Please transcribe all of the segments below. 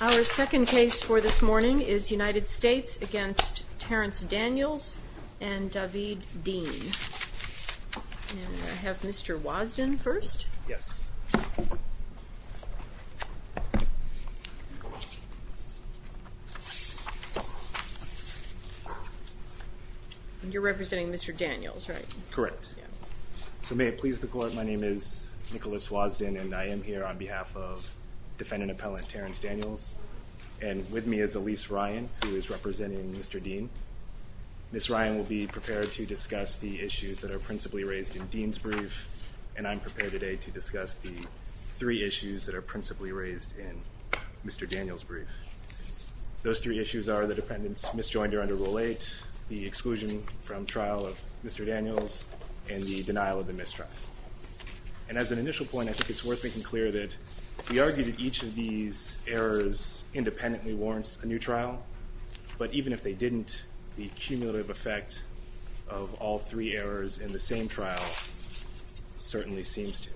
Our second case for this morning is United States v. Terrance Daniels v. David Dean I have Mr. Wosden first Yes You're representing Mr. Daniels, right? Correct So may it please the court, my name is Nicholas Wosden and I am here on behalf of defendant appellant Terrance Daniels and with me is Elyse Ryan, who is representing Mr. Dean Ms. Ryan will be prepared to discuss the issues that are principally raised in Dean's brief and I'm prepared today to discuss the three issues that are principally raised in Mr. Daniels' brief Those three issues are the defendant's misjoinder under Rule 8 the exclusion from trial of Mr. Daniels and the denial of the misdraft And as an initial point, I think it's worth making clear that we argue that each of these errors independently warrants a new trial but even if they didn't, the cumulative effect of all three errors in the same trial certainly seems to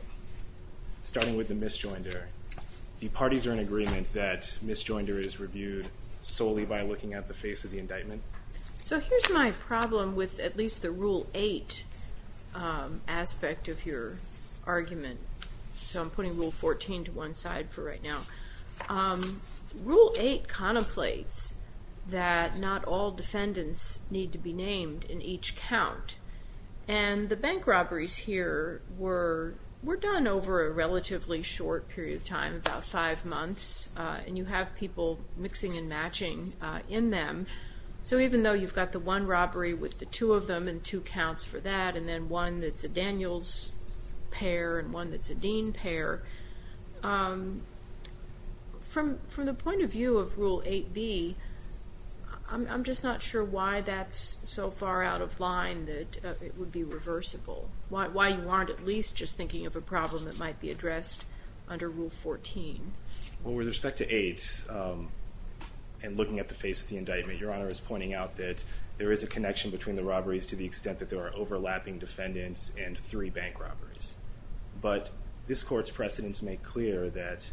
Starting with the misjoinder the parties are in agreement that misjoinder is reviewed solely by looking at the face of the indictment So here's my problem with at least the Rule 8 aspect of your argument So I'm putting Rule 14 to one side for right now Rule 8 contemplates that not all defendants need to be named in each count and the bank robberies here were done over a relatively short period of time about five months and you have people mixing and matching in them So even though you've got the one robbery with the two of them and two counts for that and then one that's a Daniels pair and one that's a Dean pair From the point of view of Rule 8b I'm just not sure why that's so far out of line that it would be reversible Why you aren't at least just thinking of a problem that might be addressed under Rule 14 Well with respect to 8 and looking at the face of the indictment Your Honor is pointing out that there is a connection between the robberies to the extent that there are overlapping defendants and three bank robberies But this court's precedents make clear that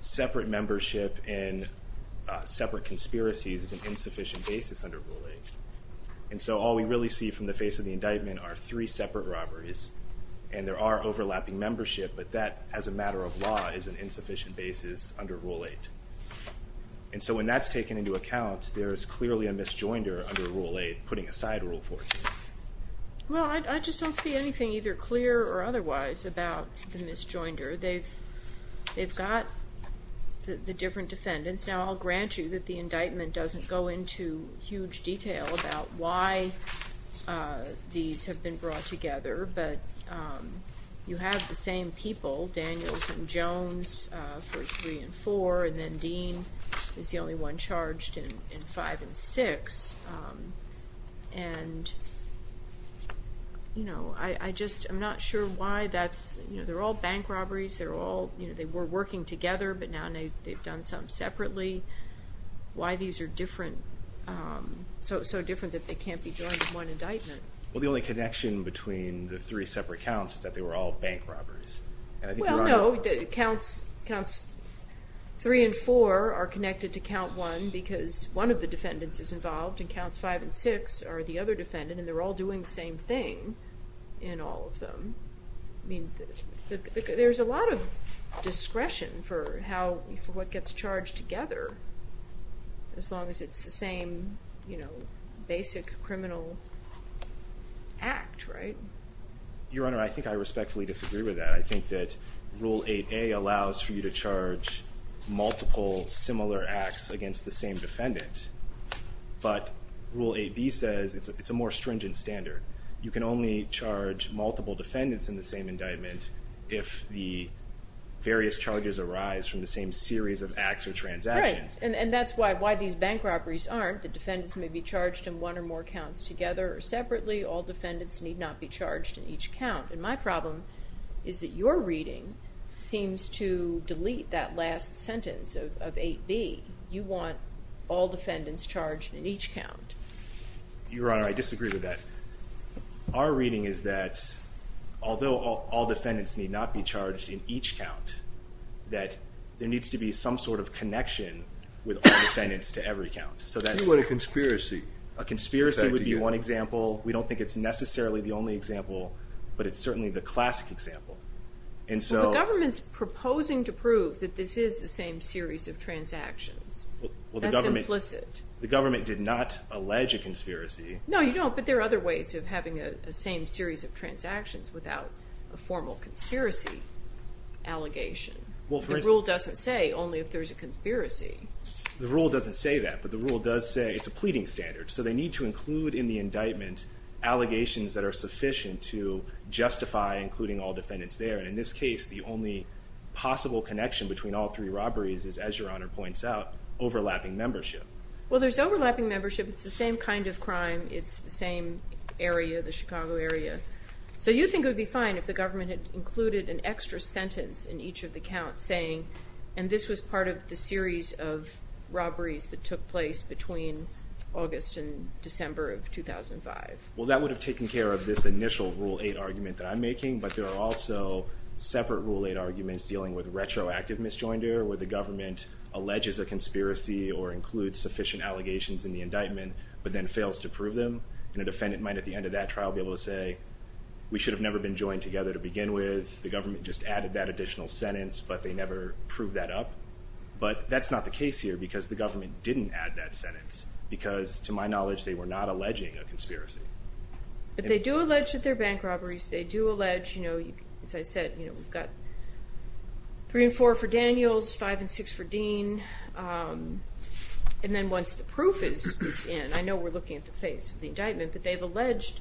separate membership and separate conspiracies is an insufficient basis under Rule 8 And so all we really see from the face of the indictment are three separate robberies and there are overlapping membership but that as a matter of law is an insufficient basis under Rule 8 And so when that's taken into account there is clearly a misjoinder under Rule 8 putting aside Rule 14 Well I just don't see anything either clear or otherwise about the misjoinder They've got the different defendants Now I'll grant you that the indictment doesn't go into huge detail about why these have been brought together But you have the same people Daniels and Jones for 3 and 4 And then Dean is the only one charged in 5 and 6 And I'm not sure why that's They're all bank robberies They were working together but now they've done some separately Why these are so different that they can't be joined in one indictment Well the only connection between the three separate counts is that they were all bank robberies Well no, counts 3 and 4 are connected to count 1 because one of the defendants is involved and counts 5 and 6 are the other defendant and they're all doing the same thing in all of them There's a lot of discretion for what gets charged together As long as it's the same basic criminal act Your Honor, I think I respectfully disagree with that I think that Rule 8a allows for you to charge multiple similar acts against the same defendant But Rule 8b says it's a more stringent standard You can only charge multiple defendants in the same indictment if the various charges arise from the same series of acts or transactions Right, and that's why these bank robberies aren't The defendants may be charged in one or more counts together or separately All defendants need not be charged in each count And my problem is that your reading seems to delete that last sentence of 8b You want all defendants charged in each count Your Honor, I disagree with that Our reading is that although all defendants need not be charged in each count that there needs to be some sort of connection with all defendants to every count What about a conspiracy? A conspiracy would be one example We don't think it's necessarily the only example but it's certainly the classic example Well, the government's proposing to prove That's implicit The government did not allege a conspiracy No, you don't, but there are other ways of having a same series of transactions without a formal conspiracy allegation The rule doesn't say only if there's a conspiracy The rule doesn't say that But the rule does say it's a pleading standard So they need to include in the indictment allegations that are sufficient to justify including all defendants there And in this case, the only possible connection between all three robberies is, as your Honor points out, overlapping membership Well, there's overlapping membership It's the same kind of crime It's the same area, the Chicago area So you think it would be fine if the government had included an extra sentence in each of the counts saying, and this was part of the series of robberies that took place between August and December of 2005 Well, that would have taken care of this initial Rule 8 argument that I'm making But there are also separate Rule 8 arguments dealing with retroactive misjoinder where the government alleges a conspiracy or includes sufficient allegations in the indictment but then fails to prove them And a defendant might, at the end of that trial, be able to say We should have never been joined together to begin with The government just added that additional sentence but they never proved that up But that's not the case here because the government didn't add that sentence Because, to my knowledge, they were not alleging a conspiracy But they do allege that they're bank robberies They do allege, you know, as I said We've got 3 and 4 for Daniels 5 and 6 for Dean And then once the proof is in I know we're looking at the face of the indictment But they've alleged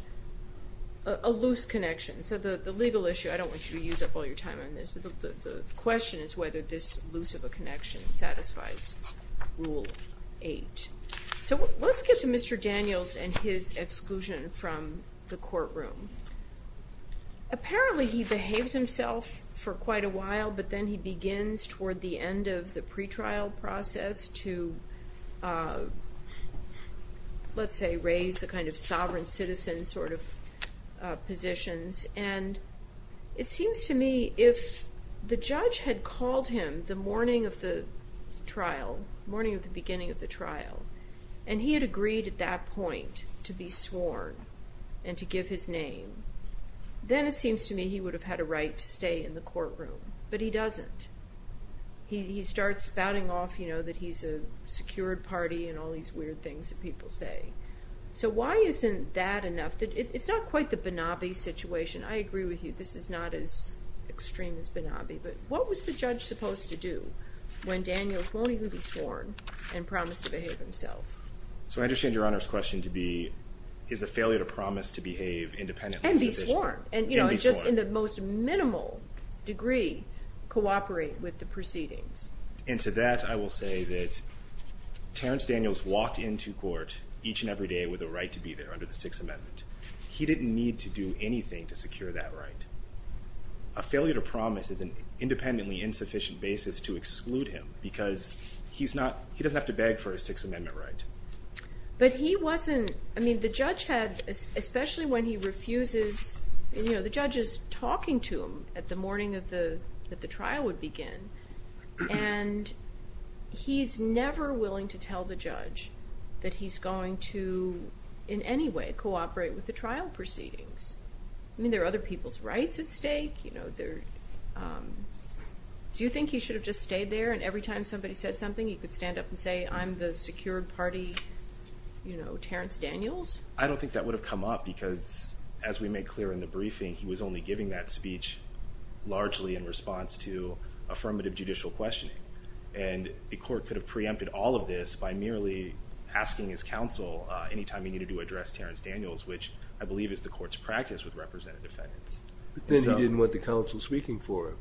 a loose connection So the legal issue I don't want you to use up all your time on this But the question is whether this loose of a connection satisfies Rule 8 So let's get to Mr. Daniels and his exclusion from the courtroom Apparently he behaves himself for quite a while But then he begins, toward the end of the pretrial process To, let's say, raise the kind of sovereign citizen sort of positions And it seems to me if the judge had called him The morning of the trial The morning of the beginning of the trial And he had agreed at that point to be sworn And to give his name Then it seems to me he would have had a right to stay in the courtroom But he doesn't He starts spouting off, you know, that he's a secured party And all these weird things that people say So why isn't that enough? It's not quite the Benabi situation I agree with you, this is not as extreme as Benabi But what was the judge supposed to do When Daniels won't even be sworn And promised to behave himself? So I understand your Honor's question to be Is a failure to promise to behave independently And be sworn And just in the most minimal degree Cooperate with the proceedings And to that I will say that Terrence Daniels walked into court Each and every day with a right to be there Under the Sixth Amendment He didn't need to do anything to secure that right A failure to promise is an independently insufficient basis To exclude him Because he doesn't have to beg for a Sixth Amendment right But he wasn't I mean, the judge had Especially when he refuses You know, the judge is talking to him At the morning that the trial would begin And he's never willing to tell the judge That he's going to, in any way Cooperate with the trial proceedings I mean, there are other people's rights at stake You know, there Do you think he should have just stayed there And every time somebody said something He could stand up and say I'm the secured party You know, Terrence Daniels? I don't think that would have come up Because as we made clear in the briefing He was only giving that speech Largely in response to Affirmative judicial questioning And the court could have preempted all of this By merely asking his counsel Anytime he needed to address Terrence Daniels Which I believe is the court's practice With representative defendants But then he didn't want the counsel speaking for him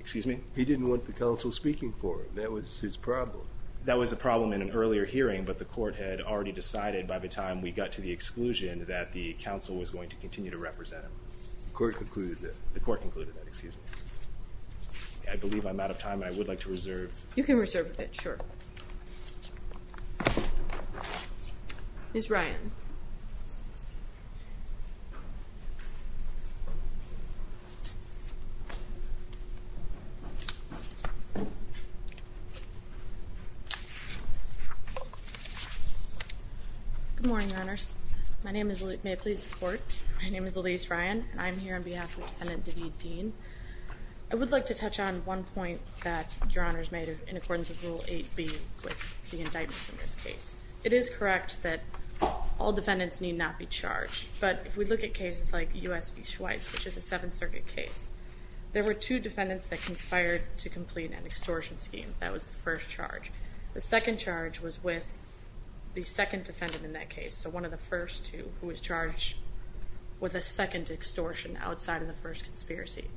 Excuse me? He didn't want the counsel speaking for him That was his problem That was a problem in an earlier hearing But the court had already decided By the time we got to the exclusion That the counsel was going to continue to represent him The court concluded that The court concluded that, excuse me I believe I'm out of time And I would like to reserve You can reserve a bit, sure Ms. Ryan Good morning, your honors My name is, may it please the court My name is Elyse Ryan And I'm here on behalf of defendant Daveed Dean I would like to touch on one point That your honors made in accordance with Rule 8B With the indictments in this case It is correct that All defendants need not be charged But if we look at cases like U.S. v. Schweitz Which is a Seventh Circuit case There were two defendants that conspired To complete an extortion scheme That was the first charge The second charge was with The second defendant in that case So one of the first two Who was charged With a second extortion Outside of the first conspiracy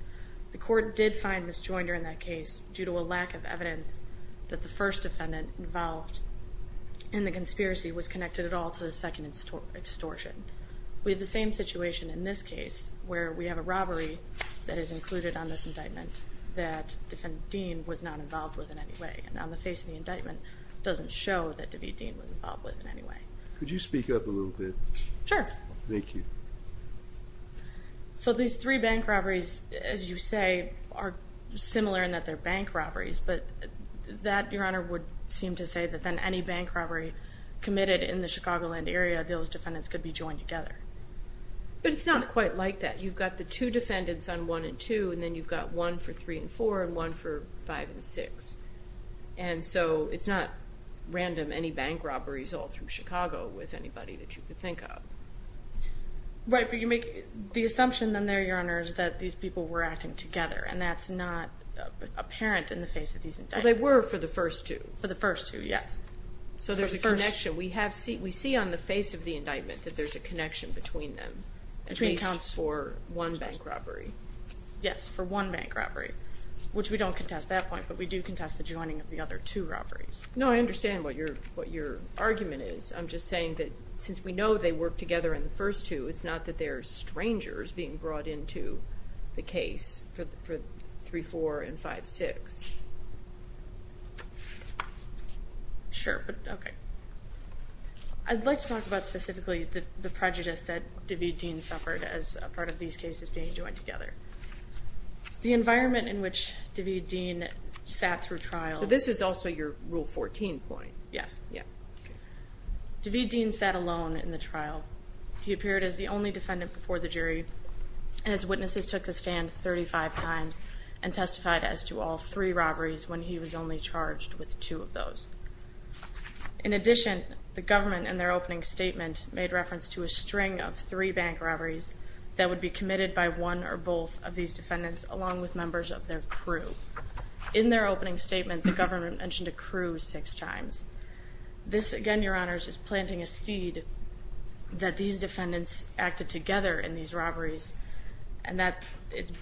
The court did find misjoinder in that case Due to a lack of evidence That the first defendant involved In the conspiracy was connected at all To the second extortion We have the same situation in this case Where we have a robbery That is included on this indictment That defendant Dean was not involved with in any way And on the face of the indictment Doesn't show that David Dean was involved with in any way Could you speak up a little bit? Sure Thank you So these three bank robberies As you say Are similar in that they are bank robberies But that your honor would Seem to say that any bank robbery Committed in the Chicagoland area Those defendants could be joined together But it's not quite like that You've got the two defendants on 1 and 2 And then you've got one for 3 and 4 And one for 5 and 6 And so it's not Random any bank robberies all through Chicago With anybody that you could think of Right but you make The assumption then there your honor Is that these people were acting together And that's not apparent in the face of these indictments But they were for the first two For the first two yes So there's a connection We see on the face of the indictment That there's a connection between them At least for one bank robbery Yes for one bank robbery Which we don't contest at that point But we do contest the joining of the other two robberies No I understand what your Argument is I'm just saying that Since we know they worked together in the first two It's not that they're strangers being brought Into the case For 3, 4 and 5, 6 Sure but okay I'd like to talk about specifically The prejudice that DeVeteen suffered As a part of these cases being joined together The environment in which DeVeteen Sat through trial So this is also your rule 14 point Yes DeVeteen sat alone in the trial He appeared as the only defendant before the jury And his witnesses took the stand 35 times and testified As to all three robberies When he was only charged with two of those In addition The government in their opening statement Made reference to a string of three Bank robberies that would be committed By one or both of these defendants Along with members of their crew In their opening statement the government Mentioned a crew six times This again your honors is planting A seed that these Defendants acted together in these Robberies and that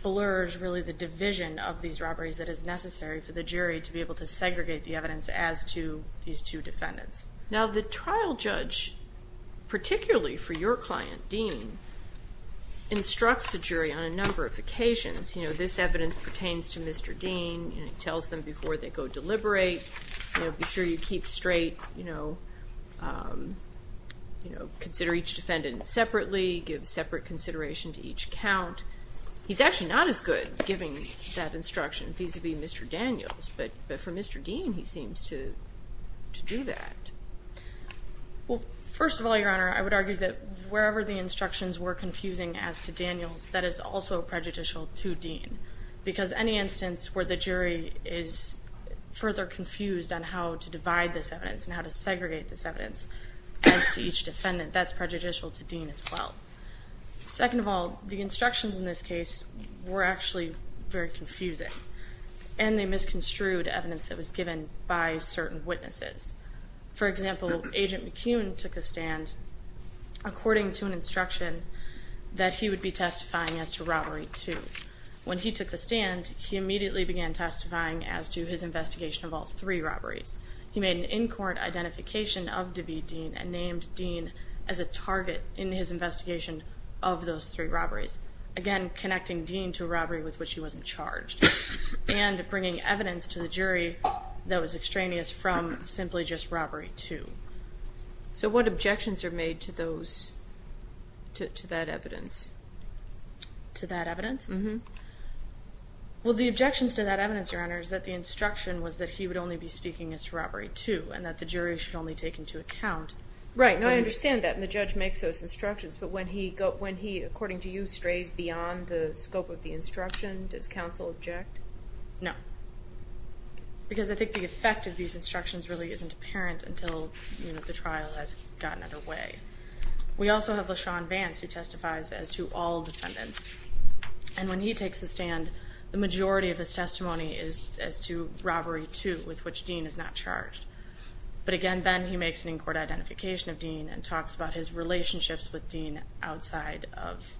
Blurs really the division of These robberies that is necessary for the jury To be able to segregate the evidence as to These two defendants Now the trial judge Particularly for your client Dean Instructs the jury on a number of occasions You know this evidence pertains to Mr. Dean He tells them before they go deliberate Be sure you keep straight You know Consider each defendant Separately give separate Consideration to each count He's actually not as good giving That instruction vis-a-vis Mr. Daniels But for Mr. Dean he seems to Do that Well first of all your honor I would argue That wherever the instructions were confusing As to Daniels that is also Prejudicial to Dean because Any instance where the jury is Further confused on How to divide this evidence and how to segregate This evidence as to each Defendant that's prejudicial to Dean as well Second of all The instructions in this case were actually Very confusing And they misconstrued evidence that was For example Agent McCune took the stand According to an instruction That he would be testifying as to robbery Two. When he took the stand He immediately began testifying as to His investigation of all three robberies He made an in-court identification Of DeVete Dean and named Dean As a target in his investigation Of those three robberies Again connecting Dean to a robbery With which he wasn't charged And bringing evidence to the jury That was extraneous from Simply just robbery two So what objections are made to those To that Evidence To that evidence? Well the objections to that evidence your honor Is that the instruction was that he would only be Speaking as to robbery two and that the jury Should only take into account Right now I understand that and the judge makes those instructions But when he according to you Strays beyond the scope of the instruction Does counsel object? No Because I think the effect of these instructions Really isn't apparent until The trial has gotten underway We also have LaShawn Vance Who testifies as to all defendants And when he takes the stand The majority of his testimony is As to robbery two with which Dean is not charged But again then he makes an in-court identification Of Dean and talks about his relationships With Dean outside of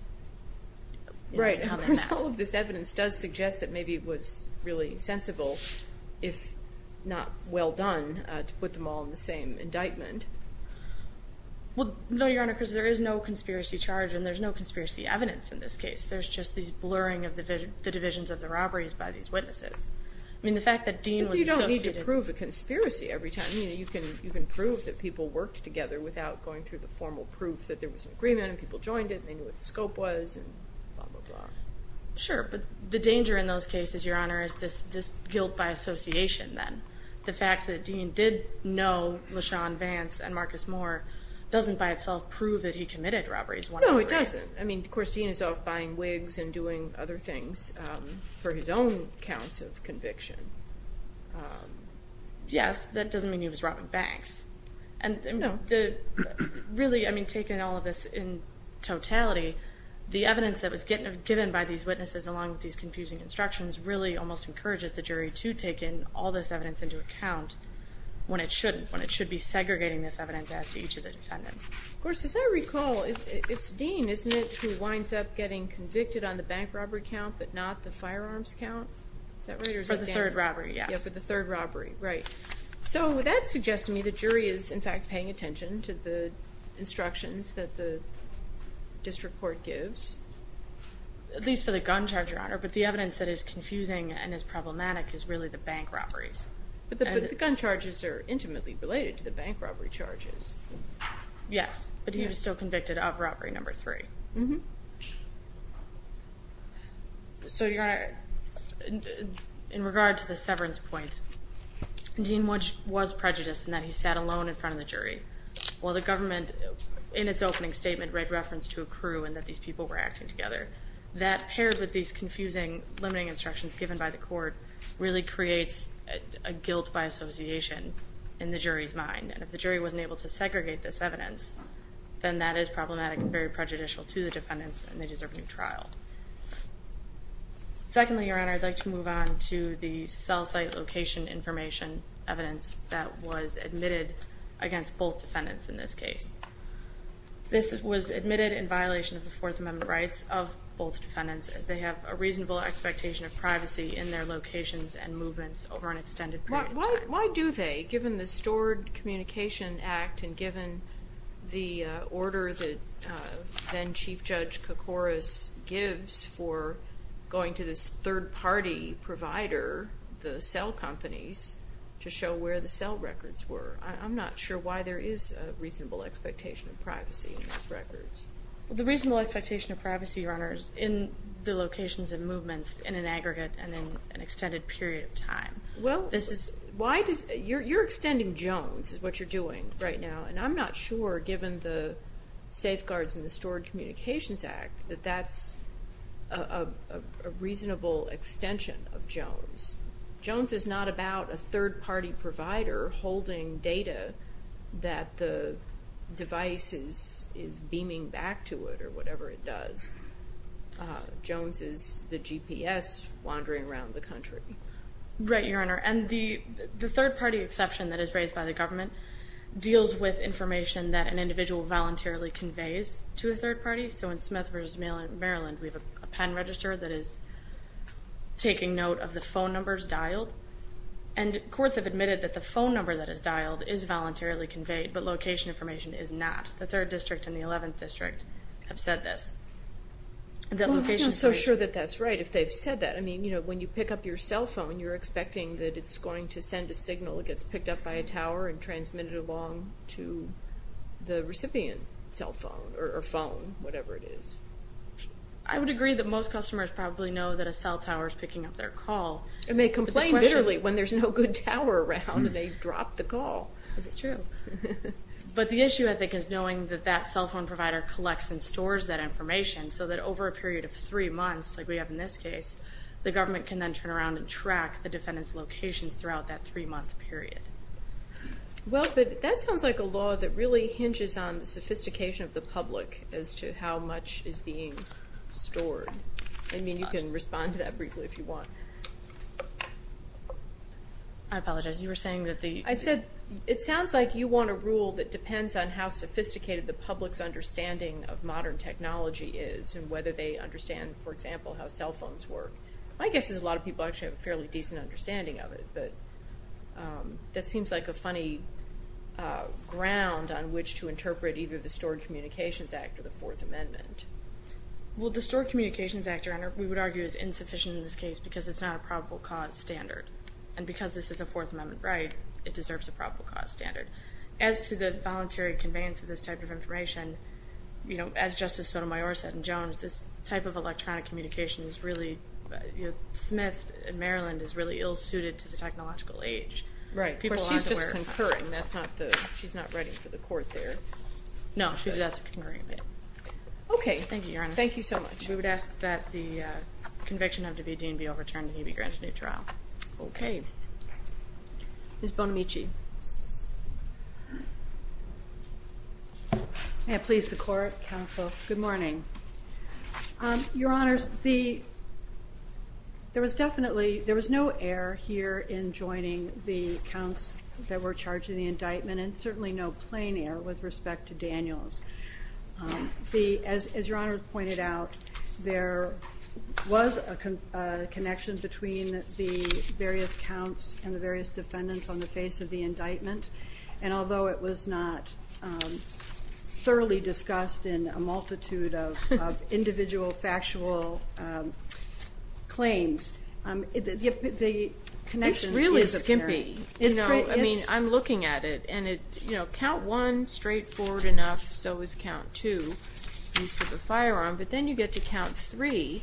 Right All of this evidence does suggest That maybe it was really sensible If not well done To put them all in the same indictment Well no your honor Because there is no conspiracy charge And there's no conspiracy evidence in this case There's just this blurring of the divisions Of the robberies by these witnesses I mean the fact that Dean was You don't need to prove a conspiracy every time You can prove that people worked together Without going through the formal proof That there was an agreement and people joined it And they knew what the scope was And blah blah blah Sure but the danger in those cases your honor Is this guilt by association then The fact that Dean did know LaShawn Vance and Marcus Moore Doesn't by itself prove that he committed Robberies one way or the other No it doesn't I mean of course Dean is off buying wigs And doing other things For his own counts of conviction Yes That doesn't mean he was robbing banks No Really I mean Taking all of this in totality The evidence that was given By these witnesses along with these confusing instructions Really almost encourages the jury To take in all this evidence into account When it shouldn't When it should be segregating this evidence as to each of the defendants Of course as I recall It's Dean isn't it who winds up Getting convicted on the bank robbery count But not the firearms count For the third robbery yes For the third robbery right So that suggests to me the jury Is in fact paying attention to the Instructions that the District court gives At least for the gun charge your honor But the evidence that is confusing and is problematic Is really the bank robberies But the gun charges are intimately Related to the bank robbery charges Yes but he was still Convicted of robbery number three So you're gonna In regard to the severance Point Dean was prejudiced in that he sat alone in front of the jury While the government In its opening statement read reference to a crew And that these people were acting together That paired with these confusing Limiting instructions given by the court Really creates a guilt By association in the jury's Mind and if the jury wasn't able to segregate This evidence then that is problematic And very prejudicial to the defendants And they deserve a new trial Secondly your honor I'd like to Move on to the cell site Location information evidence That was admitted against Both defendants in this case This was admitted in violation Of the fourth amendment rights of both Defendants as they have a reasonable expectation Of privacy in their locations And movements over an extended period of time Why do they given the stored Communication act and given The order that Then chief judge Kokoris gives for Going to this third party Provider the cell companies To show where the cell records Were I'm not sure why there is A reasonable expectation of privacy In those records The reasonable expectation of privacy your honor is In the locations and movements In an aggregate and in an extended period of time Well this is You're extending Jones Is what you're doing right now and I'm not sure Given the safeguards In the stored communications act That that's A reasonable extension Of Jones Jones is not About a third party provider Holding data That the devices Is beaming back to it Or whatever it does Jones is the GPS Wandering around the country Right your honor and the Third party exception that is raised by the government Deals with information That an individual voluntarily conveys To a third party so in Smith versus Maryland We have a pen register that is Taking note Of the phone numbers dialed And courts have admitted that the phone number That is dialed is voluntarily conveyed But location information is not The third district and the eleventh district Have said this I'm not so sure that that's right if they've said that I mean you know when you pick up your cell phone You're expecting that it's going to send a signal It gets picked up by a tower and transmitted Along to The recipient cell phone Or phone whatever it is I would agree that most Customers probably know that a cell tower is picking Up their call and they complain literally When there's no good tower around And they drop the call But the issue I think is Knowing that that cell phone provider collects And stores that information so that over a Period of three months like we have in this case The government can then turn around and Track the defendant's locations throughout that Three month period Well but That sounds like a law that really hinges on The sophistication of the public As to how much is being Stored I mean you can respond to that briefly if you want I apologize you were saying that the I said it sounds like you want a rule that depends On how sophisticated the public's Understanding of modern technology Is and whether they understand For example how cell phones work My guess is a lot of people actually have a fairly decent Understanding of it That seems like a funny Ground on which to Interpret either the Stored Communications Act Or the Fourth Amendment Well the Stored Communications Act We would argue is insufficient in this case because it's not A probable cause standard And because this is a Fourth Amendment right It deserves a probable cause standard As to the voluntary conveyance of this type of information As Justice Sotomayor Said in Jones This type of electronic communication is really Smith in Maryland Is really ill suited to the technological age She's just concurring That's not the She's not writing for the court there No she's not Okay thank you Your Honor Thank you so much We would ask that the conviction of Davideen be overturned and he be granted a new trial Okay Ms. Bonamici May I please the court Counsel Good morning Your Honor There was definitely No error here in joining The counts that were charged In the indictment and certainly no plain error With respect to Daniels As Your Honor Pointed out There was a connection Between the various Counts and the various defendants on the face Of the indictment and although It was not Thoroughly discussed In a multitude of Individual factual Claims The connection Is really skimpy I'm looking at it Count one straightforward enough So is count two Use of a firearm but then you get to count three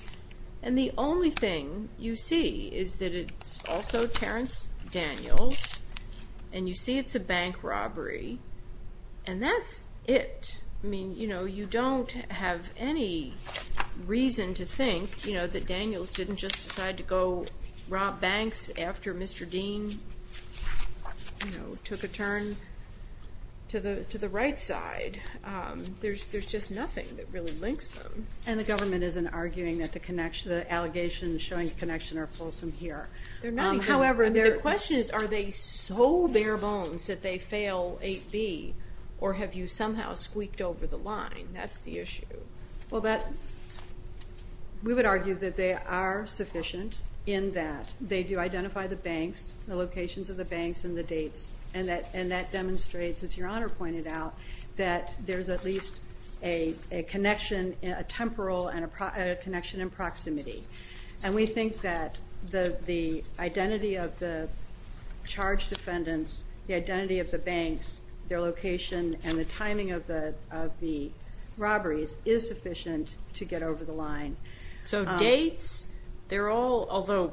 And the only thing You see is that it's Also Terence Daniels And you see it's a bank Robbery And that's it You don't have any Reason to think That Daniels didn't just decide to go Rob banks after Mr. Deane Took a turn To the right side There's just nothing that really Links them And the government isn't arguing that the allegations Showing connection are fulsome here However the question is Are they so bare bones That they fail 8B Or have you somehow squeaked over the line That's the issue Well that We would argue that they are sufficient In that they do identify the banks The locations of the banks And the dates and that demonstrates As your honor pointed out That there's at least a Connection a temporal And a connection in proximity And we think that the Identity of the Charged defendants, the identity of the Banks, their location And the timing of the Robberies is sufficient To get over the line So dates, they're all Although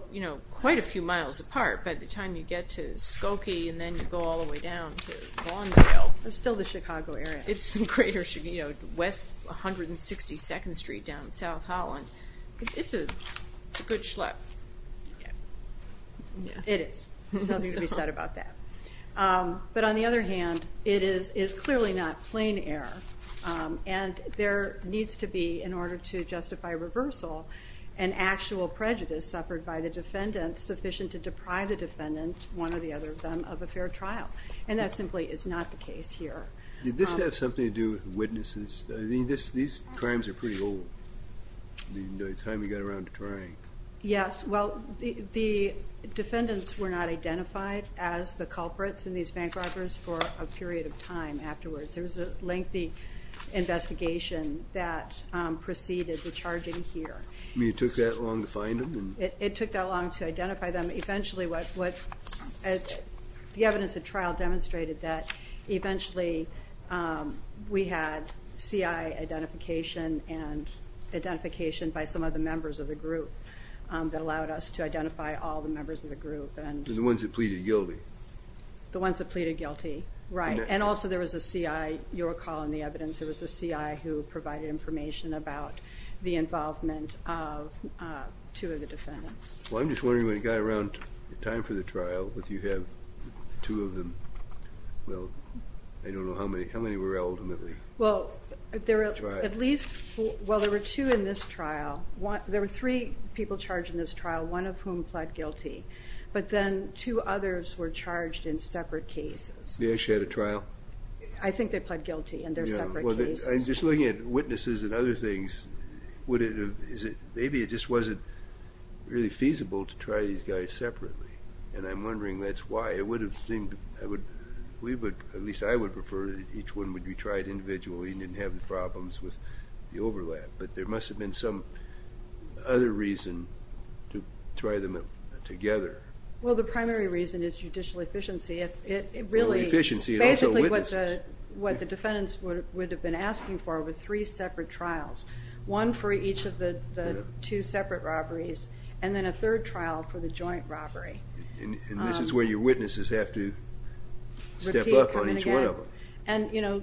quite a few miles apart By the time you get to Skokie And then you go all the way down to Vaughnville It's still the Chicago area It's in greater Chicago, west 162nd street down in South Holland It's a good It is Something to be said about that But on the other hand It is clearly not Plain error And there needs to be in order to Justify reversal An actual prejudice suffered by the Defendant sufficient to deprive the Defendant, one or the other of them, of a fair trial And that simply is not the case here Did this have something to do with Witnesses? These crimes are pretty old The time you got around to trying Yes, well The defendants were not identified As the culprits in these bank robberies For a period of time afterwards There was a lengthy Investigation that Preceded the charging here It took that long to find them? It took that long to identify them Eventually what The evidence of trial demonstrated that Eventually We had CI identification And identification by Some of the members of the group That allowed us to identify all the members Of the group The ones that pleaded guilty Right, and also there was a CI You'll recall in the evidence There was a CI who provided information about The involvement of Two of the defendants I'm just wondering when it got around time for the trial If you have two of them Well I don't know how many were ultimately Well At least, well there were two in this trial There were three people charged in this trial One of whom pled guilty But then two others were charged In separate cases They actually had a trial? I think they pled guilty in their separate cases I'm just looking at witnesses and other things Would it have, is it Maybe it just wasn't really feasible To try these guys separately And I'm wondering that's why It would have seemed We would, at least I would prefer Each one would be tried individually And didn't have the problems with the overlap But there must have been some Other reason To try them together Well the primary reason is judicial efficiency It really Basically what the Defendants would have been asking for Were three separate trials One for each of the two separate robberies And then a third trial For the joint robbery And this is where your witnesses have to Step up on each one of them And you know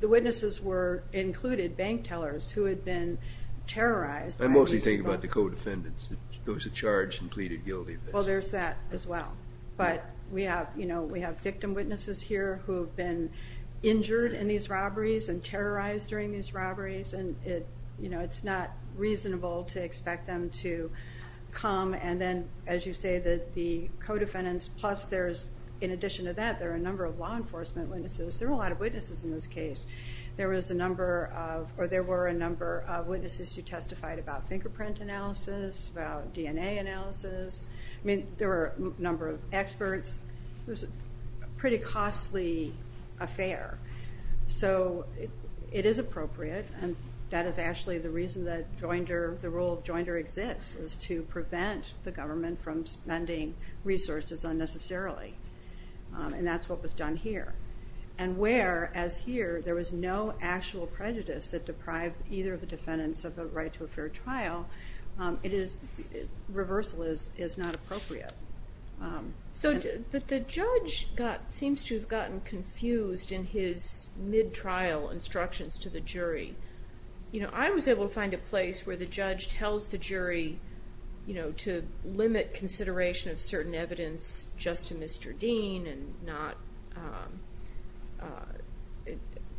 The witnesses were included Bank tellers who had been terrorized I mostly think about the co-defendants That was charged and pleaded guilty Well there's that as well But we have you know Victim witnesses here who have been Injured in these robberies And terrorized during these robberies And it's not reasonable To expect them to come And then as you say The co-defendants plus there's In addition to that there are a number of law enforcement Witnesses, there were a lot of witnesses in this case There was a number of Or there were a number of witnesses who testified About fingerprint analysis About DNA analysis I mean there were a number of experts It was a pretty Costly affair So it is Appropriate and that is actually The reason that the role of The government from spending Resources unnecessarily And that's what was done here And where as here There was no actual prejudice that Deprived either of the defendants of the right To a fair trial Reversal is not Appropriate But the judge Seems to have gotten confused in his Mid-trial instructions To the jury I was able to find a place where the judge Tells the jury To limit consideration of certain Evidence just to Mr. Dean And not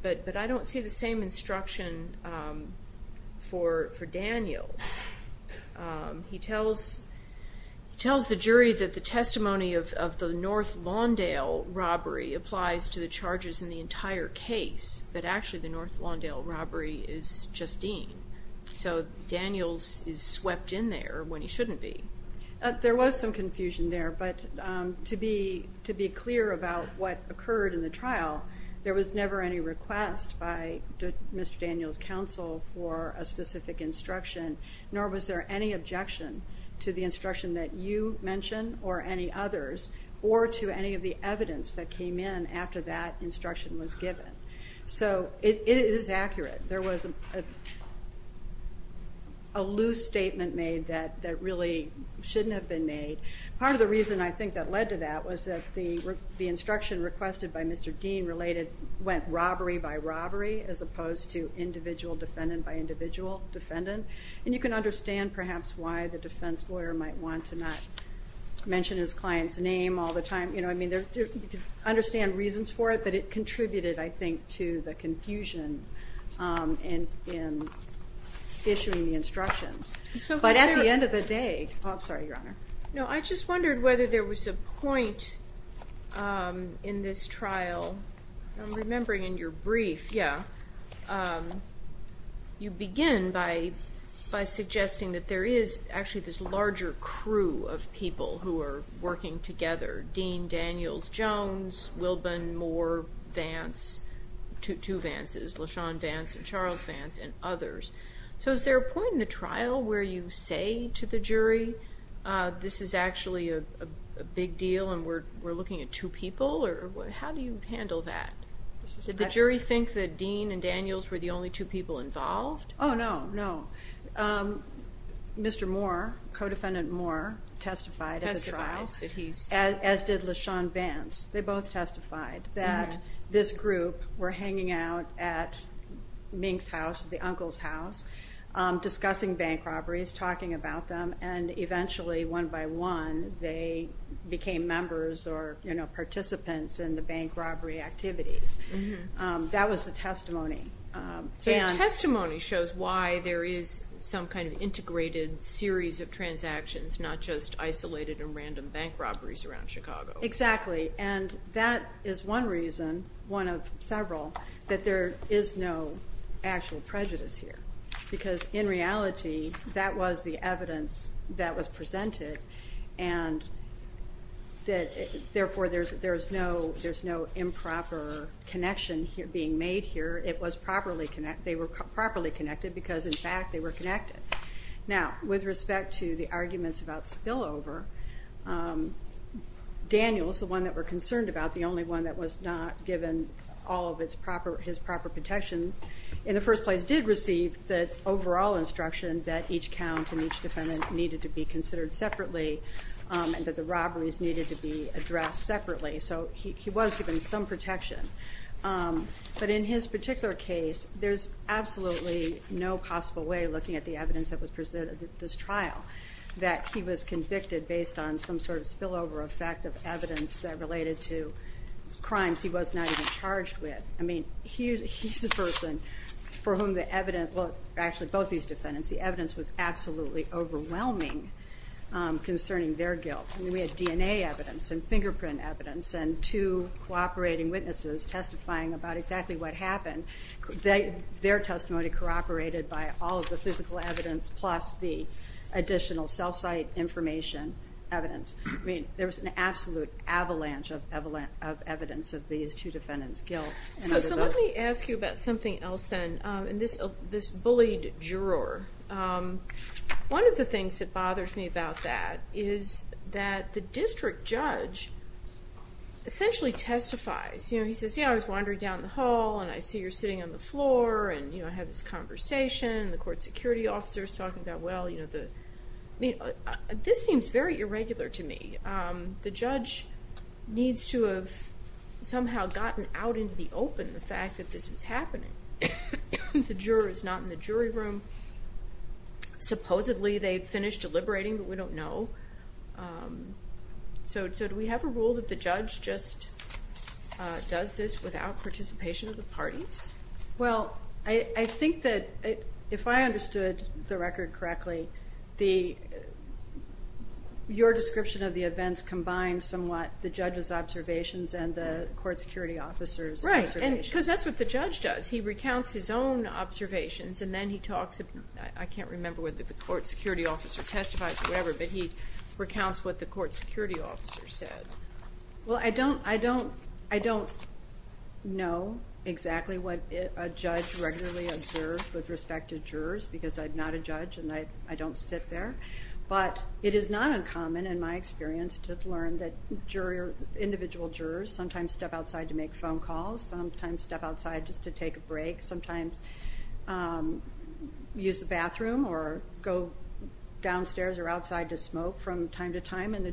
But I don't see the same instruction For Daniel He tells The jury that the testimony of The North Lawndale Robbery applies to the charges in the Entire case but actually the North Lawndale robbery is just Dean So Daniel Is swept in there when he shouldn't be There was some confusion there But to be Clear about what occurred in the trial There was never any request By Mr. Daniel's Counsel for a specific instruction Nor was there any objection To the instruction that you Mentioned or any others Or to any of the evidence that came In after that instruction was given So it is Accurate. There was A loose statement Made that really Shouldn't have been made. Part of the reason I think that led to that was that the Instruction requested by Mr. Dean Related went robbery by robbery As opposed to individual defendant By individual defendant And you can understand perhaps why the Defense lawyer might want to not Mention his client's name all the time You know I mean Understand reasons for it but it contributed I think To the confusion In Issuing the instructions But at the end of the day No I just wondered whether there was A point In this trial I'm remembering in your brief Yeah You begin by Suggesting that there is actually this Larger crew of people Who are working together Dean Daniels Jones Wilburn Moore Vance Two Vances Lashon Vance and Charles Vance and others So is there a point in the trial Where you say to the jury This is actually a Big deal and we're looking at Two people or how do you handle That? Did the jury think That Dean and Daniels were the only two people Involved? Oh no no Mr. Moore Codefendant Moore testified At the trial As did Lashon Vance They both testified that This group were hanging out At Mink's house The uncle's house Discussing bank robberies talking about them And eventually one by one They became members Or you know participants In the bank robbery activities That was the testimony So your testimony shows why There is some kind of integrated Series of transactions Not just isolated and random Bank robberies around Chicago Exactly and that is one reason One of several That there is no actual Prejudice here because in reality That was the evidence That was presented And Therefore there is no Improper connection Being made here They were properly connected Because in fact they were connected Now with respect to The arguments about spillover Daniels The one that we are concerned about The only one that was not given All of his proper protections In the first place did receive The overall instruction that each count And each defendant needed to be considered Separately and that the robberies Needed to be addressed separately So he was given some protection But in his particular Case there is absolutely No possible way looking at the evidence That was presented at this trial That he was convicted based on Some sort of spillover effect of evidence That related to crimes He was not even charged with I mean he is the person For whom the evidence Well actually both these defendants the evidence was absolutely Overwhelming Concerning their guilt We had DNA evidence and fingerprint evidence And two cooperating witnesses Testifying about exactly what happened And their testimony Corroborated by all of the physical evidence Plus the additional Cell site information Evidence I mean there was an absolute Avalanche of evidence Of these two defendants guilt So let me ask you about something else then In this bullied Juror One of the things that bothers me about that Is that the district Judge Essentially testifies You know he says yeah I was wandering down the hall And I see you're sitting on the floor And you know I had this conversation And the court security officer is talking about well I mean this seems Very irregular to me The judge needs to have Somehow gotten out Into the open the fact that this is happening The juror is not In the jury room Supposedly they finished deliberating But we don't know So do we have a rule That the judge just Does this without participation Of the parties Well I think that If I understood the record correctly The Your description of the events Combines somewhat the judge's observations And the court security officer's Right because that's what the judge does He recounts his own observations And then he talks I can't remember whether the court security officer Testifies or whatever but he Well I don't Know Exactly what a judge regularly Observes with respect to jurors Because I'm not a judge and I don't sit There but it is not Uncommon in my experience to learn That individual jurors Sometimes step outside to make phone calls Sometimes step outside just to take a break Sometimes Use the bathroom or Go downstairs or Outside to smoke from time to time And the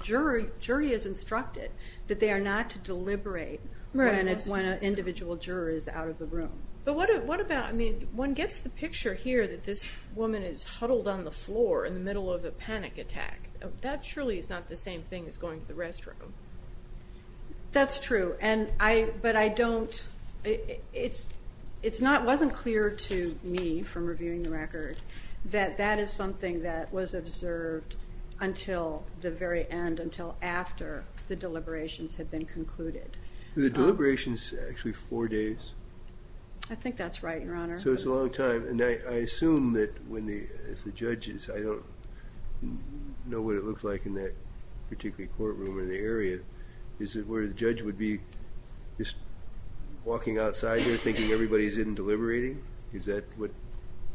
jury is instructed That they are not to deliberate When an individual juror Is out of the room One gets the picture here that this Woman is huddled on the floor In the middle of a panic attack That surely is not the same thing as going to the Restroom That's true But I don't It wasn't clear to me From reviewing the record That that is something that was observed Until the very end Until after the deliberations Had been concluded The deliberations actually four days I think that's right your honor So it's a long time and I assume that When the judges I don't know what it looks like In that particular courtroom Or the area is it where the judge Would be just Walking outside there thinking everybody's in Deliberating is that what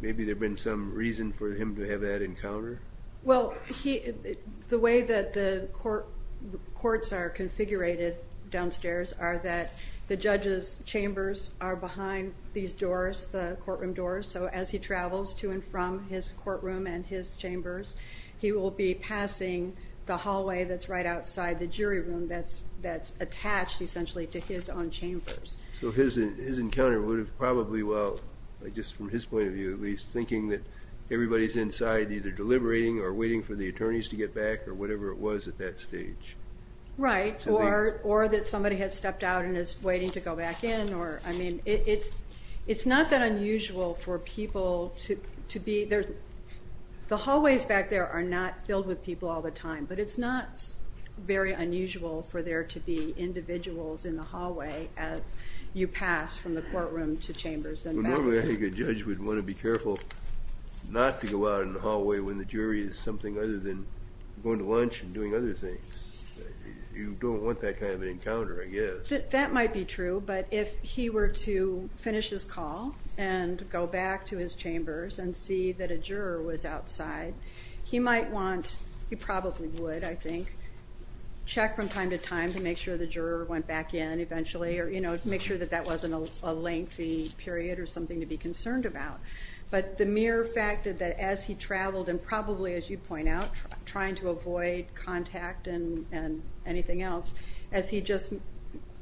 Maybe there been some reason for him To have that encounter Well the way that the Courts are Configurated downstairs are that The judges chambers are Behind these doors the Courtroom doors so as he travels to and From his courtroom and his chambers He will be passing The hallway that's right outside the Jury room that's attached Essentially to his own chambers So his encounter would have probably Well just from his point of view At least thinking that everybody's inside Either deliberating or waiting for the Attorneys to get back or whatever it was at that Stage right or Or that somebody had stepped out and is Waiting to go back in or I mean It's not that unusual For people to be There the hallways back There are not filled with people all the time But it's not very unusual For there to be individuals In the hallway as you Pass from the courtroom to chambers Normally I think a judge would want to be careful Not to go out in the Hallway when the jury is something other than Going to lunch and doing other things You don't want that kind Of an encounter I guess That might be true but if he were to Finish his call and go Back to his chambers and see that A juror was outside He might want he probably would I think check from Time to time to make sure the juror went back In eventually or you know make sure that that Wasn't a lengthy period Or something to be concerned about But the mere fact that as he Traveled and probably as you point out Trying to avoid contact And anything else As he just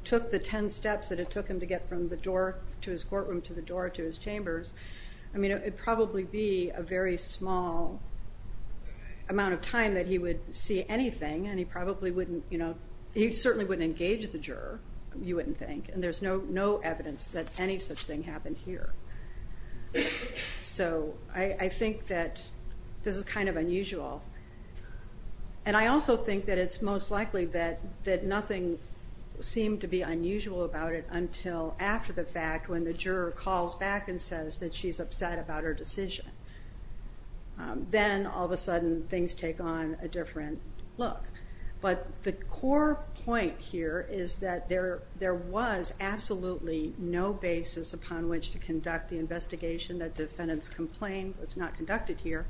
took the Ten steps that it took him to get from the door To his courtroom to the door to his chambers I mean it would probably be A very small Amount of time that he would See anything and he probably wouldn't You know he certainly wouldn't engage the juror You wouldn't think and there's no evidence That any such thing happened here So I think that This is kind of unusual And I also think that it's most Likely that nothing Seemed to be unusual about it Until after the fact when the Juror calls back and says that she's Upset about her decision Then all of a sudden Things take on a different look But the core Point here is that There was absolutely No basis upon which to conduct The investigation that defendant's complaint Was not conducted here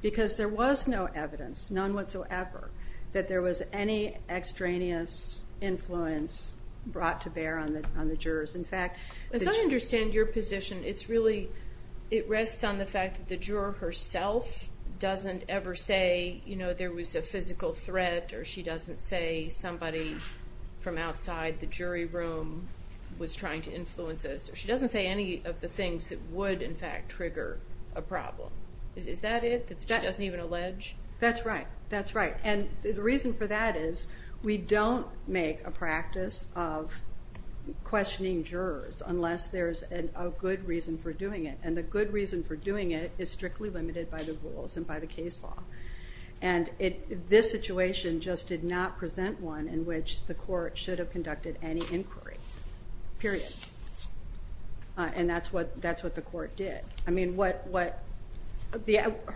Because there was no evidence None whatsoever that there was any Extraneous influence Brought to bear on the Jurors in fact As I understand your position it's really It rests on the fact that the juror Herself doesn't ever say You know there was a physical threat Or she doesn't say somebody From outside the jury room Was trying to influence this Or she doesn't say any of the things that Would in fact trigger a problem Is that it? She doesn't even allege? That's right and the reason for that is We don't make a practice Of questioning Jurors unless there's a Good reason for doing it and the good reason For doing it is strictly limited by the Rules and by the case law And this situation Just did not present one In which the court should have conducted any Inquiry period And that's what The court did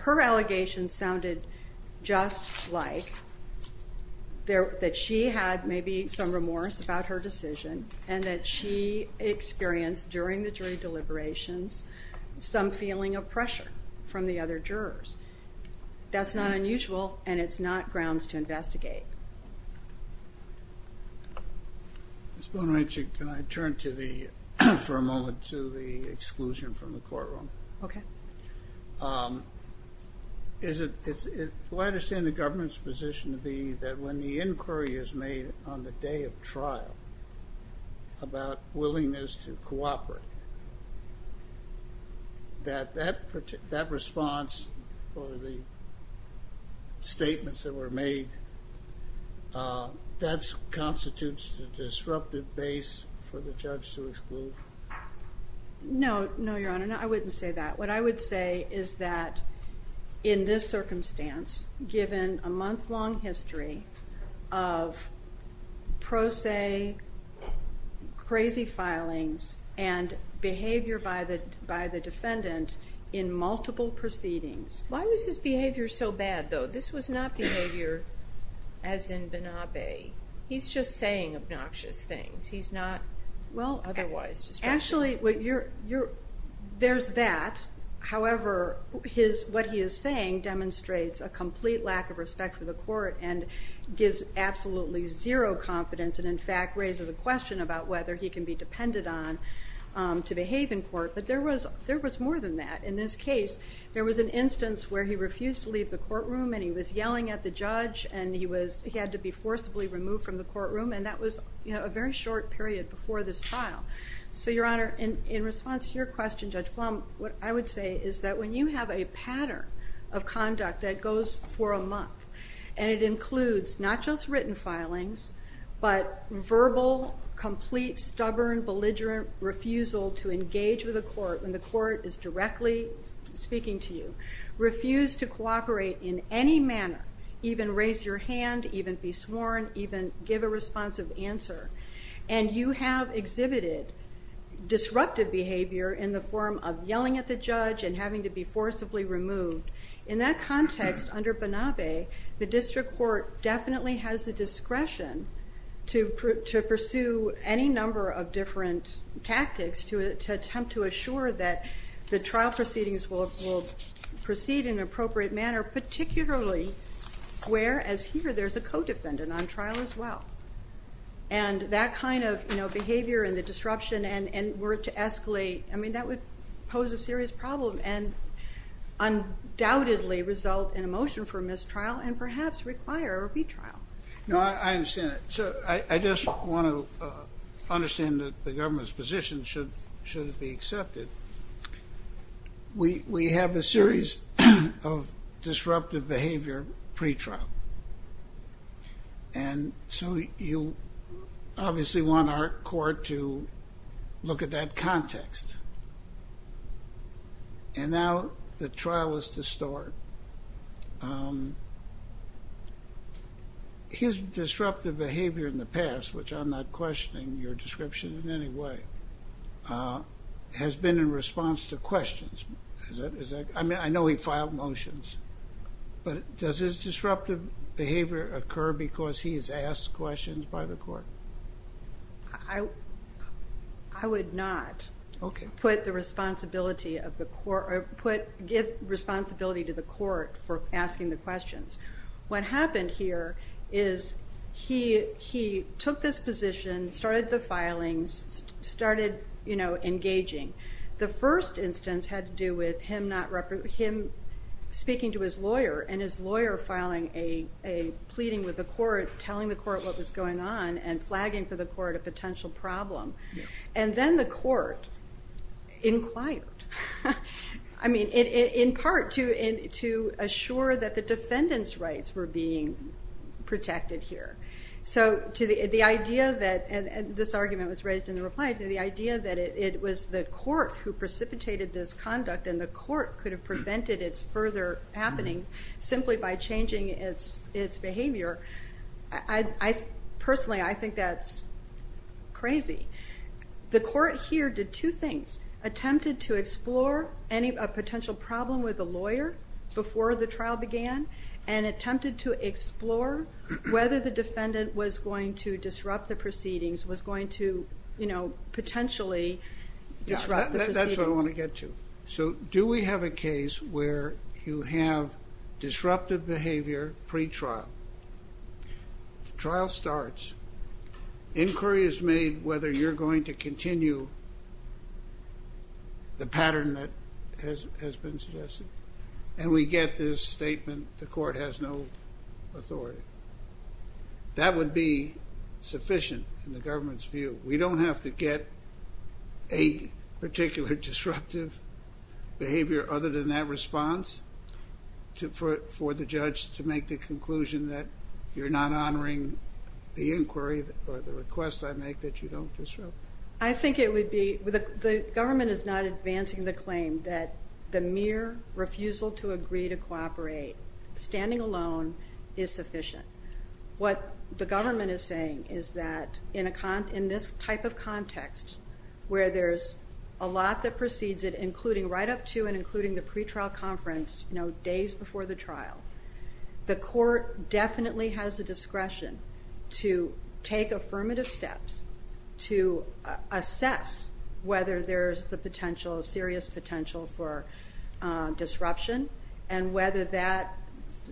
Her Allegation sounded just Like That she had maybe some Remorse about her decision and that She experienced during The jury deliberations Some feeling of pressure from the Other jurors That's not unusual and it's not grounds To investigate Ms. Boenricher can I turn to the For a moment to the Exclusion from the courtroom Okay Is it The government's position to be that When the inquiry is made on the day Of trial About willingness to cooperate That That response For the Statements that were made That Constitutes a disruptive Base for the judge to exclude No No your honor I wouldn't say that What I would say is that In this circumstance given A month long history Of Pro se Crazy Filings and behavior By the defendant In multiple proceedings Why was his behavior so bad though? This was not behavior As in Benabe He's just saying obnoxious things He's not well otherwise Actually There's that however What he is saying Demonstrates a complete lack of respect For the court and gives Absolutely zero confidence And in fact raises a question about whether He can be depended on To behave in court but there was More than that in this case There was an instance where he refused to leave the Courtroom and he was yelling at the judge And he had to be forcibly removed From the courtroom and that was A very short period before this file So your honor in response to your Question Judge Flom what I would say Is that when you have a pattern Of conduct that goes for a month And it includes not just Written filings but Verbal complete stubborn Belligerent refusal to Engage with the court when the court is directly Speaking to you Refuse to cooperate in any Manner even raise your hand Even be sworn even give A responsive answer and You have exhibited Disruptive behavior in the form Of yelling at the judge and having to be Forcibly removed in that The district court definitely has The discretion to Pursue any number of Different tactics to Attempt to assure that the Trial proceedings will proceed In an appropriate manner particularly Where as here There's a co-defendant on trial as well And that kind of Behavior and the disruption Were to escalate I mean that would Pose a serious problem and Undoubtedly Result in a motion for mistrial And perhaps require a retrial No I understand it so I Just want to understand That the government's position should Be accepted We have a series Of disruptive Behavior pretrial And so You obviously Want our court to Look at that context And now The trial is to start His Disruptive behavior in the past which I'm not questioning your description in Any way Has been in response to questions I mean I know he Filed motions but Does his disruptive behavior Occur because he has asked questions By the court I would Not put the Give responsibility to the court For asking the questions What happened here is He took this position Started the filings Started engaging The first instance had to do With him Speaking to his lawyer and his lawyer Filing a pleading With the court telling the court what was going On and flagging for the court a potential Problem and then the court Inquired I mean In part to assure That the defendant's rights were being Protected here So to the idea that This argument was raised in the reply To the idea that it was the court Who precipitated this conduct and the Court could have prevented its further Happening simply by changing Its behavior I personally I think that's crazy The court here did Two things, attempted to explore A potential problem with The lawyer before the trial began And attempted to explore Whether the defendant Was going to disrupt the proceedings Was going to Potentially disrupt the proceedings That's what I want to get to Do we have a case where you have Disruptive behavior Pre-trial The trial starts Inquiry is made whether you're Going to continue The pattern that Has been suggested And we get this statement The court has no authority That would be Sufficient in the government's view We don't have to get A particular disruptive Behavior other than that Response For the judge to make the conclusion That you're not honoring The inquiry or the request I make that you don't disrupt I think it would be The government is not advancing the claim That the mere refusal to agree To cooperate Standing alone is sufficient What the government is saying Is that in this type of Context Where there's a lot that precedes it Including right up to and including the pre-trial Conference days before the trial The court Definitely has the discretion To take affirmative steps To assess Whether there's the potential Serious potential for Disruption And whether that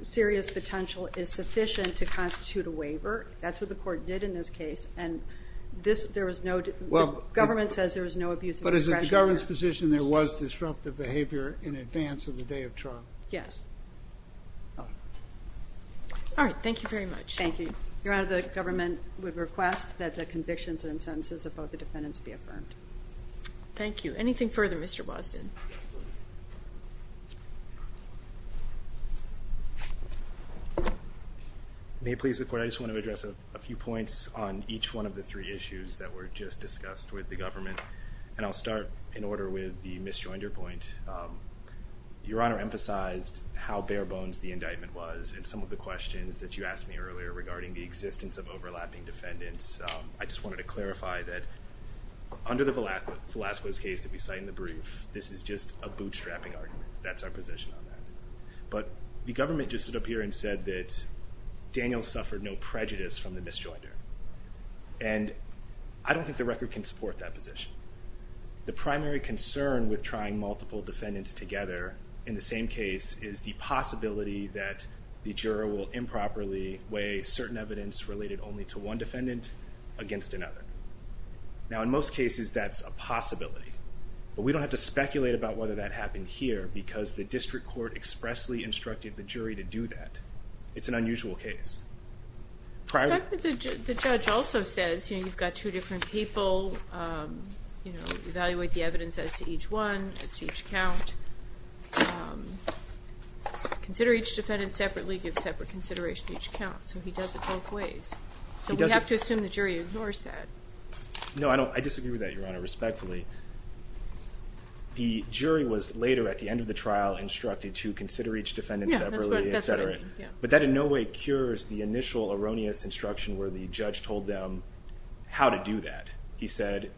Serious potential is sufficient To constitute a waiver That's what the court did in this case Government says there's no Abusive discretion But is it the government's position There was disruptive behavior In advance of the day of trial Yes Alright, thank you very much Thank you. Your Honor, the government Would request that the convictions and Sentences of both the defendants be affirmed Thank you. Anything further, Mr. Bosden? May it please the court, I just want to Address a few points on each one Of the three issues that were just discussed With the government, and I'll start In order with the Miss Joinder point Your Honor emphasized How barebones the indictment was And some of the questions that you asked me earlier Regarding the existence of overlapping Defendants, I just wanted to clarify That under the Velasquez case that we cite in the brief This is just a bootstrapping argument That's our position on that But the government just stood up here and said that Daniel suffered no prejudice From the Miss Joinder And I don't think the record can support That position The primary concern With trying multiple defendants together In the same case is the possibility That the juror will Improperly weigh certain evidence Related only to one defendant Against another Now in most cases that's a possibility But we don't have to speculate about whether That happened here because the district court Expressly instructed the jury to do that It's an unusual case Prior to The judge also says, you know, you've got two Different people You know, evaluate the evidence as to each one As to each count Consider each defendant separately, give separate Consideration to each count, so he does it both ways So we have to assume the jury Ignores that No, I disagree with that your honor, respectfully The jury was Later at the end of the trial instructed To consider each defendant separately, etc But that in no way cures The initial erroneous instruction where the Jury did not do that, he said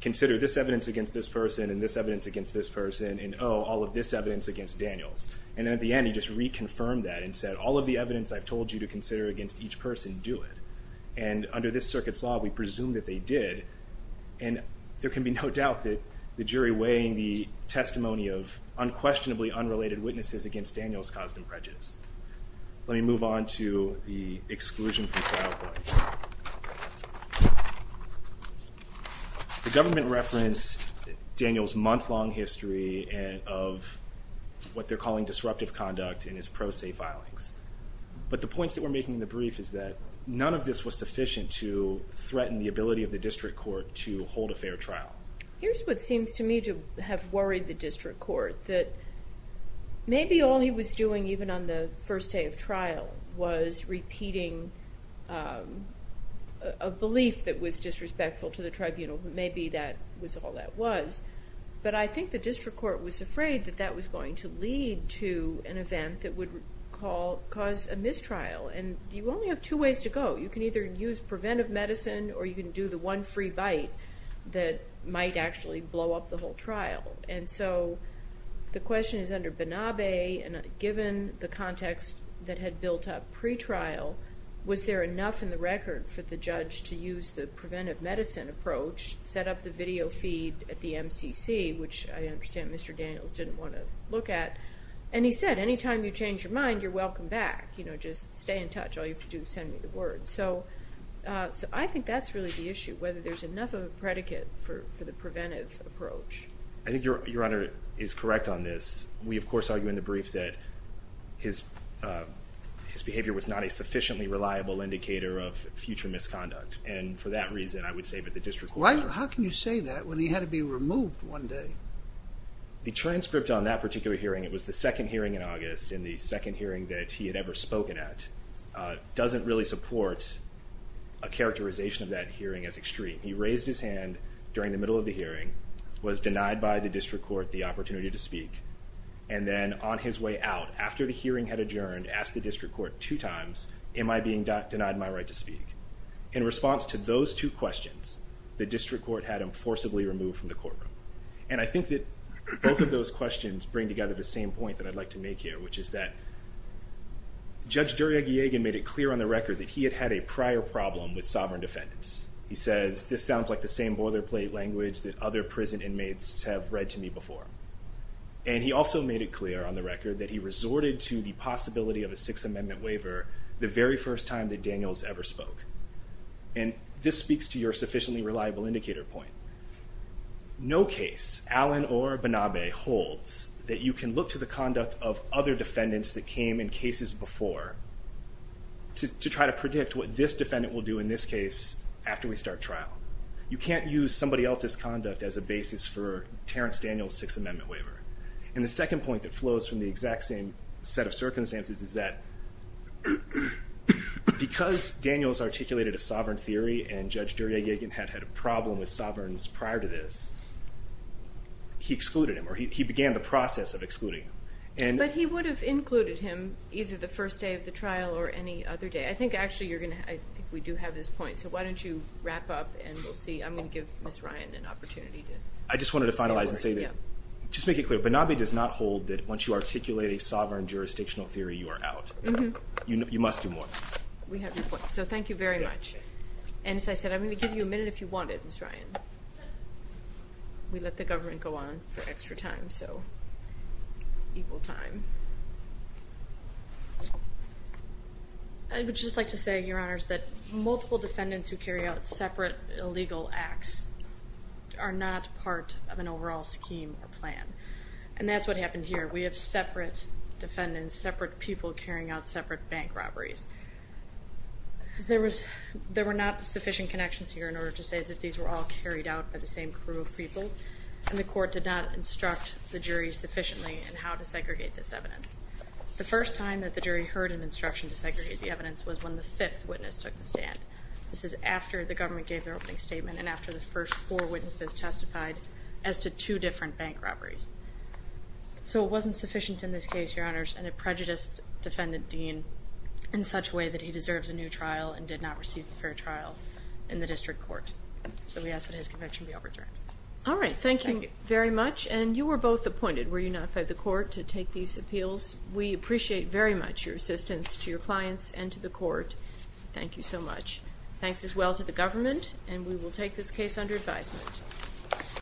Consider this evidence against this person And this evidence against this person And oh, all of this evidence against Daniels And at the end he just reconfirmed that And said all of the evidence I've told you to consider Against each person, do it And under this circuit's law we presume that they did And there can be no doubt that The jury weighing the Testimony of unquestionably unrelated Witnesses against Daniels caused him prejudice Let me move on to The exclusion from trial points The government referenced Daniels month long history Of What they're calling disruptive conduct In his pro se filings But the points that we're making in the brief is that None of this was sufficient to Threaten the ability of the district court to Hold a fair trial Here's what seems to me to have worried the district court That Maybe all he was doing even on the First day of trial was Repeating A Belief that was disrespectful to the Tribunal but maybe that was all that Was but I think the district Court was afraid that that was going to lead To an event that would Cause a mistrial And you only have two ways to go You can either use preventive medicine or you can Do the one free bite that Might actually blow up the whole trial And so The question is under Banabe Given the context that had Built up pre trial Was there enough in the record for the judge To use the preventive medicine approach Set up the video feed At the MCC which I understand Mr. Daniels didn't want to look at And he said anytime you change your mind You're welcome back you know just stay in touch All you have to do is send me the word So I think that's really the issue Whether there's enough of a predicate For the preventive approach I think your honor is correct on this We of course argue in the brief that His Behavior was not a sufficiently reliable indicator Of future misconduct And for that reason I would say that the district How can you say that when he had to be removed One day The transcript on that particular hearing It was the second hearing in August and the second hearing That he had ever spoken at Doesn't really support A characterization of that hearing as extreme He raised his hand during the middle Of the hearing was denied by the District Court the opportunity to speak And then on his way out After the hearing had adjourned asked the District Court two times am I being Denied my right to speak In response to those two questions The district court had him forcibly removed from the Courtroom and I think that Both of those questions bring together the same Point that I'd like to make here which is that Judge Duryeg Made it clear on the record that he had had a prior Problem with sovereign defendants He says this sounds like the same boilerplate Language that other prison inmates Have read to me before And he also made it clear on the record that He resorted to the possibility of a Sixth amendment waiver the very first Time that Daniels ever spoke And this speaks to your sufficiently Reliable indicator point No case Allen or Banabe holds that you can look To the conduct of other defendants that Came in cases before To try to predict what this Defendant will do in this case after We start trial you can't use somebody As a basis for Terence Daniels' sixth amendment waiver And the second point that flows from the exact same Set of circumstances is that Because Daniels articulated a sovereign theory And Judge Duryeg had had a problem With sovereigns prior to this He excluded him Or he began the process of excluding him But he would have included him Either the first day of the trial or any Other day I think actually you're going to We do have this point so why don't you wrap up And we'll see I'm going to give Miss Ryan An opportunity to I just wanted to finalize and say Just make it clear Banabe does not Hold that once you articulate a sovereign Jurisdictional theory you are out You must do more So thank you very much And as I said I'm going to give you a minute if you wanted Miss Ryan We let the government go on for extra time So Equal time I would just like to say your honors that Illegal acts Are not part of an overall scheme Or plan and that's what happened Here we have separate defendants Separate people carrying out separate bank Robberies There was there were not sufficient Connections here in order to say that these were all carried Out by the same crew of people And the court did not instruct the jury Sufficiently in how to segregate this Evidence the first time that the jury Heard an instruction to segregate the evidence Was when the fifth witness took the stand This is after the government gave their Opening statement and after the first four witnesses Testified as to two different Bank robberies So it wasn't sufficient in this case your honors And it prejudiced defendant Dean In such a way that he deserves a new trial And did not receive a fair trial In the district court So we ask that his conviction be overturned Alright thank you very much and you were both Appointed were you not by the court to take these Appeals we appreciate very much Your assistance to your clients and to the Thanks as well to the government And we will take this case under advisement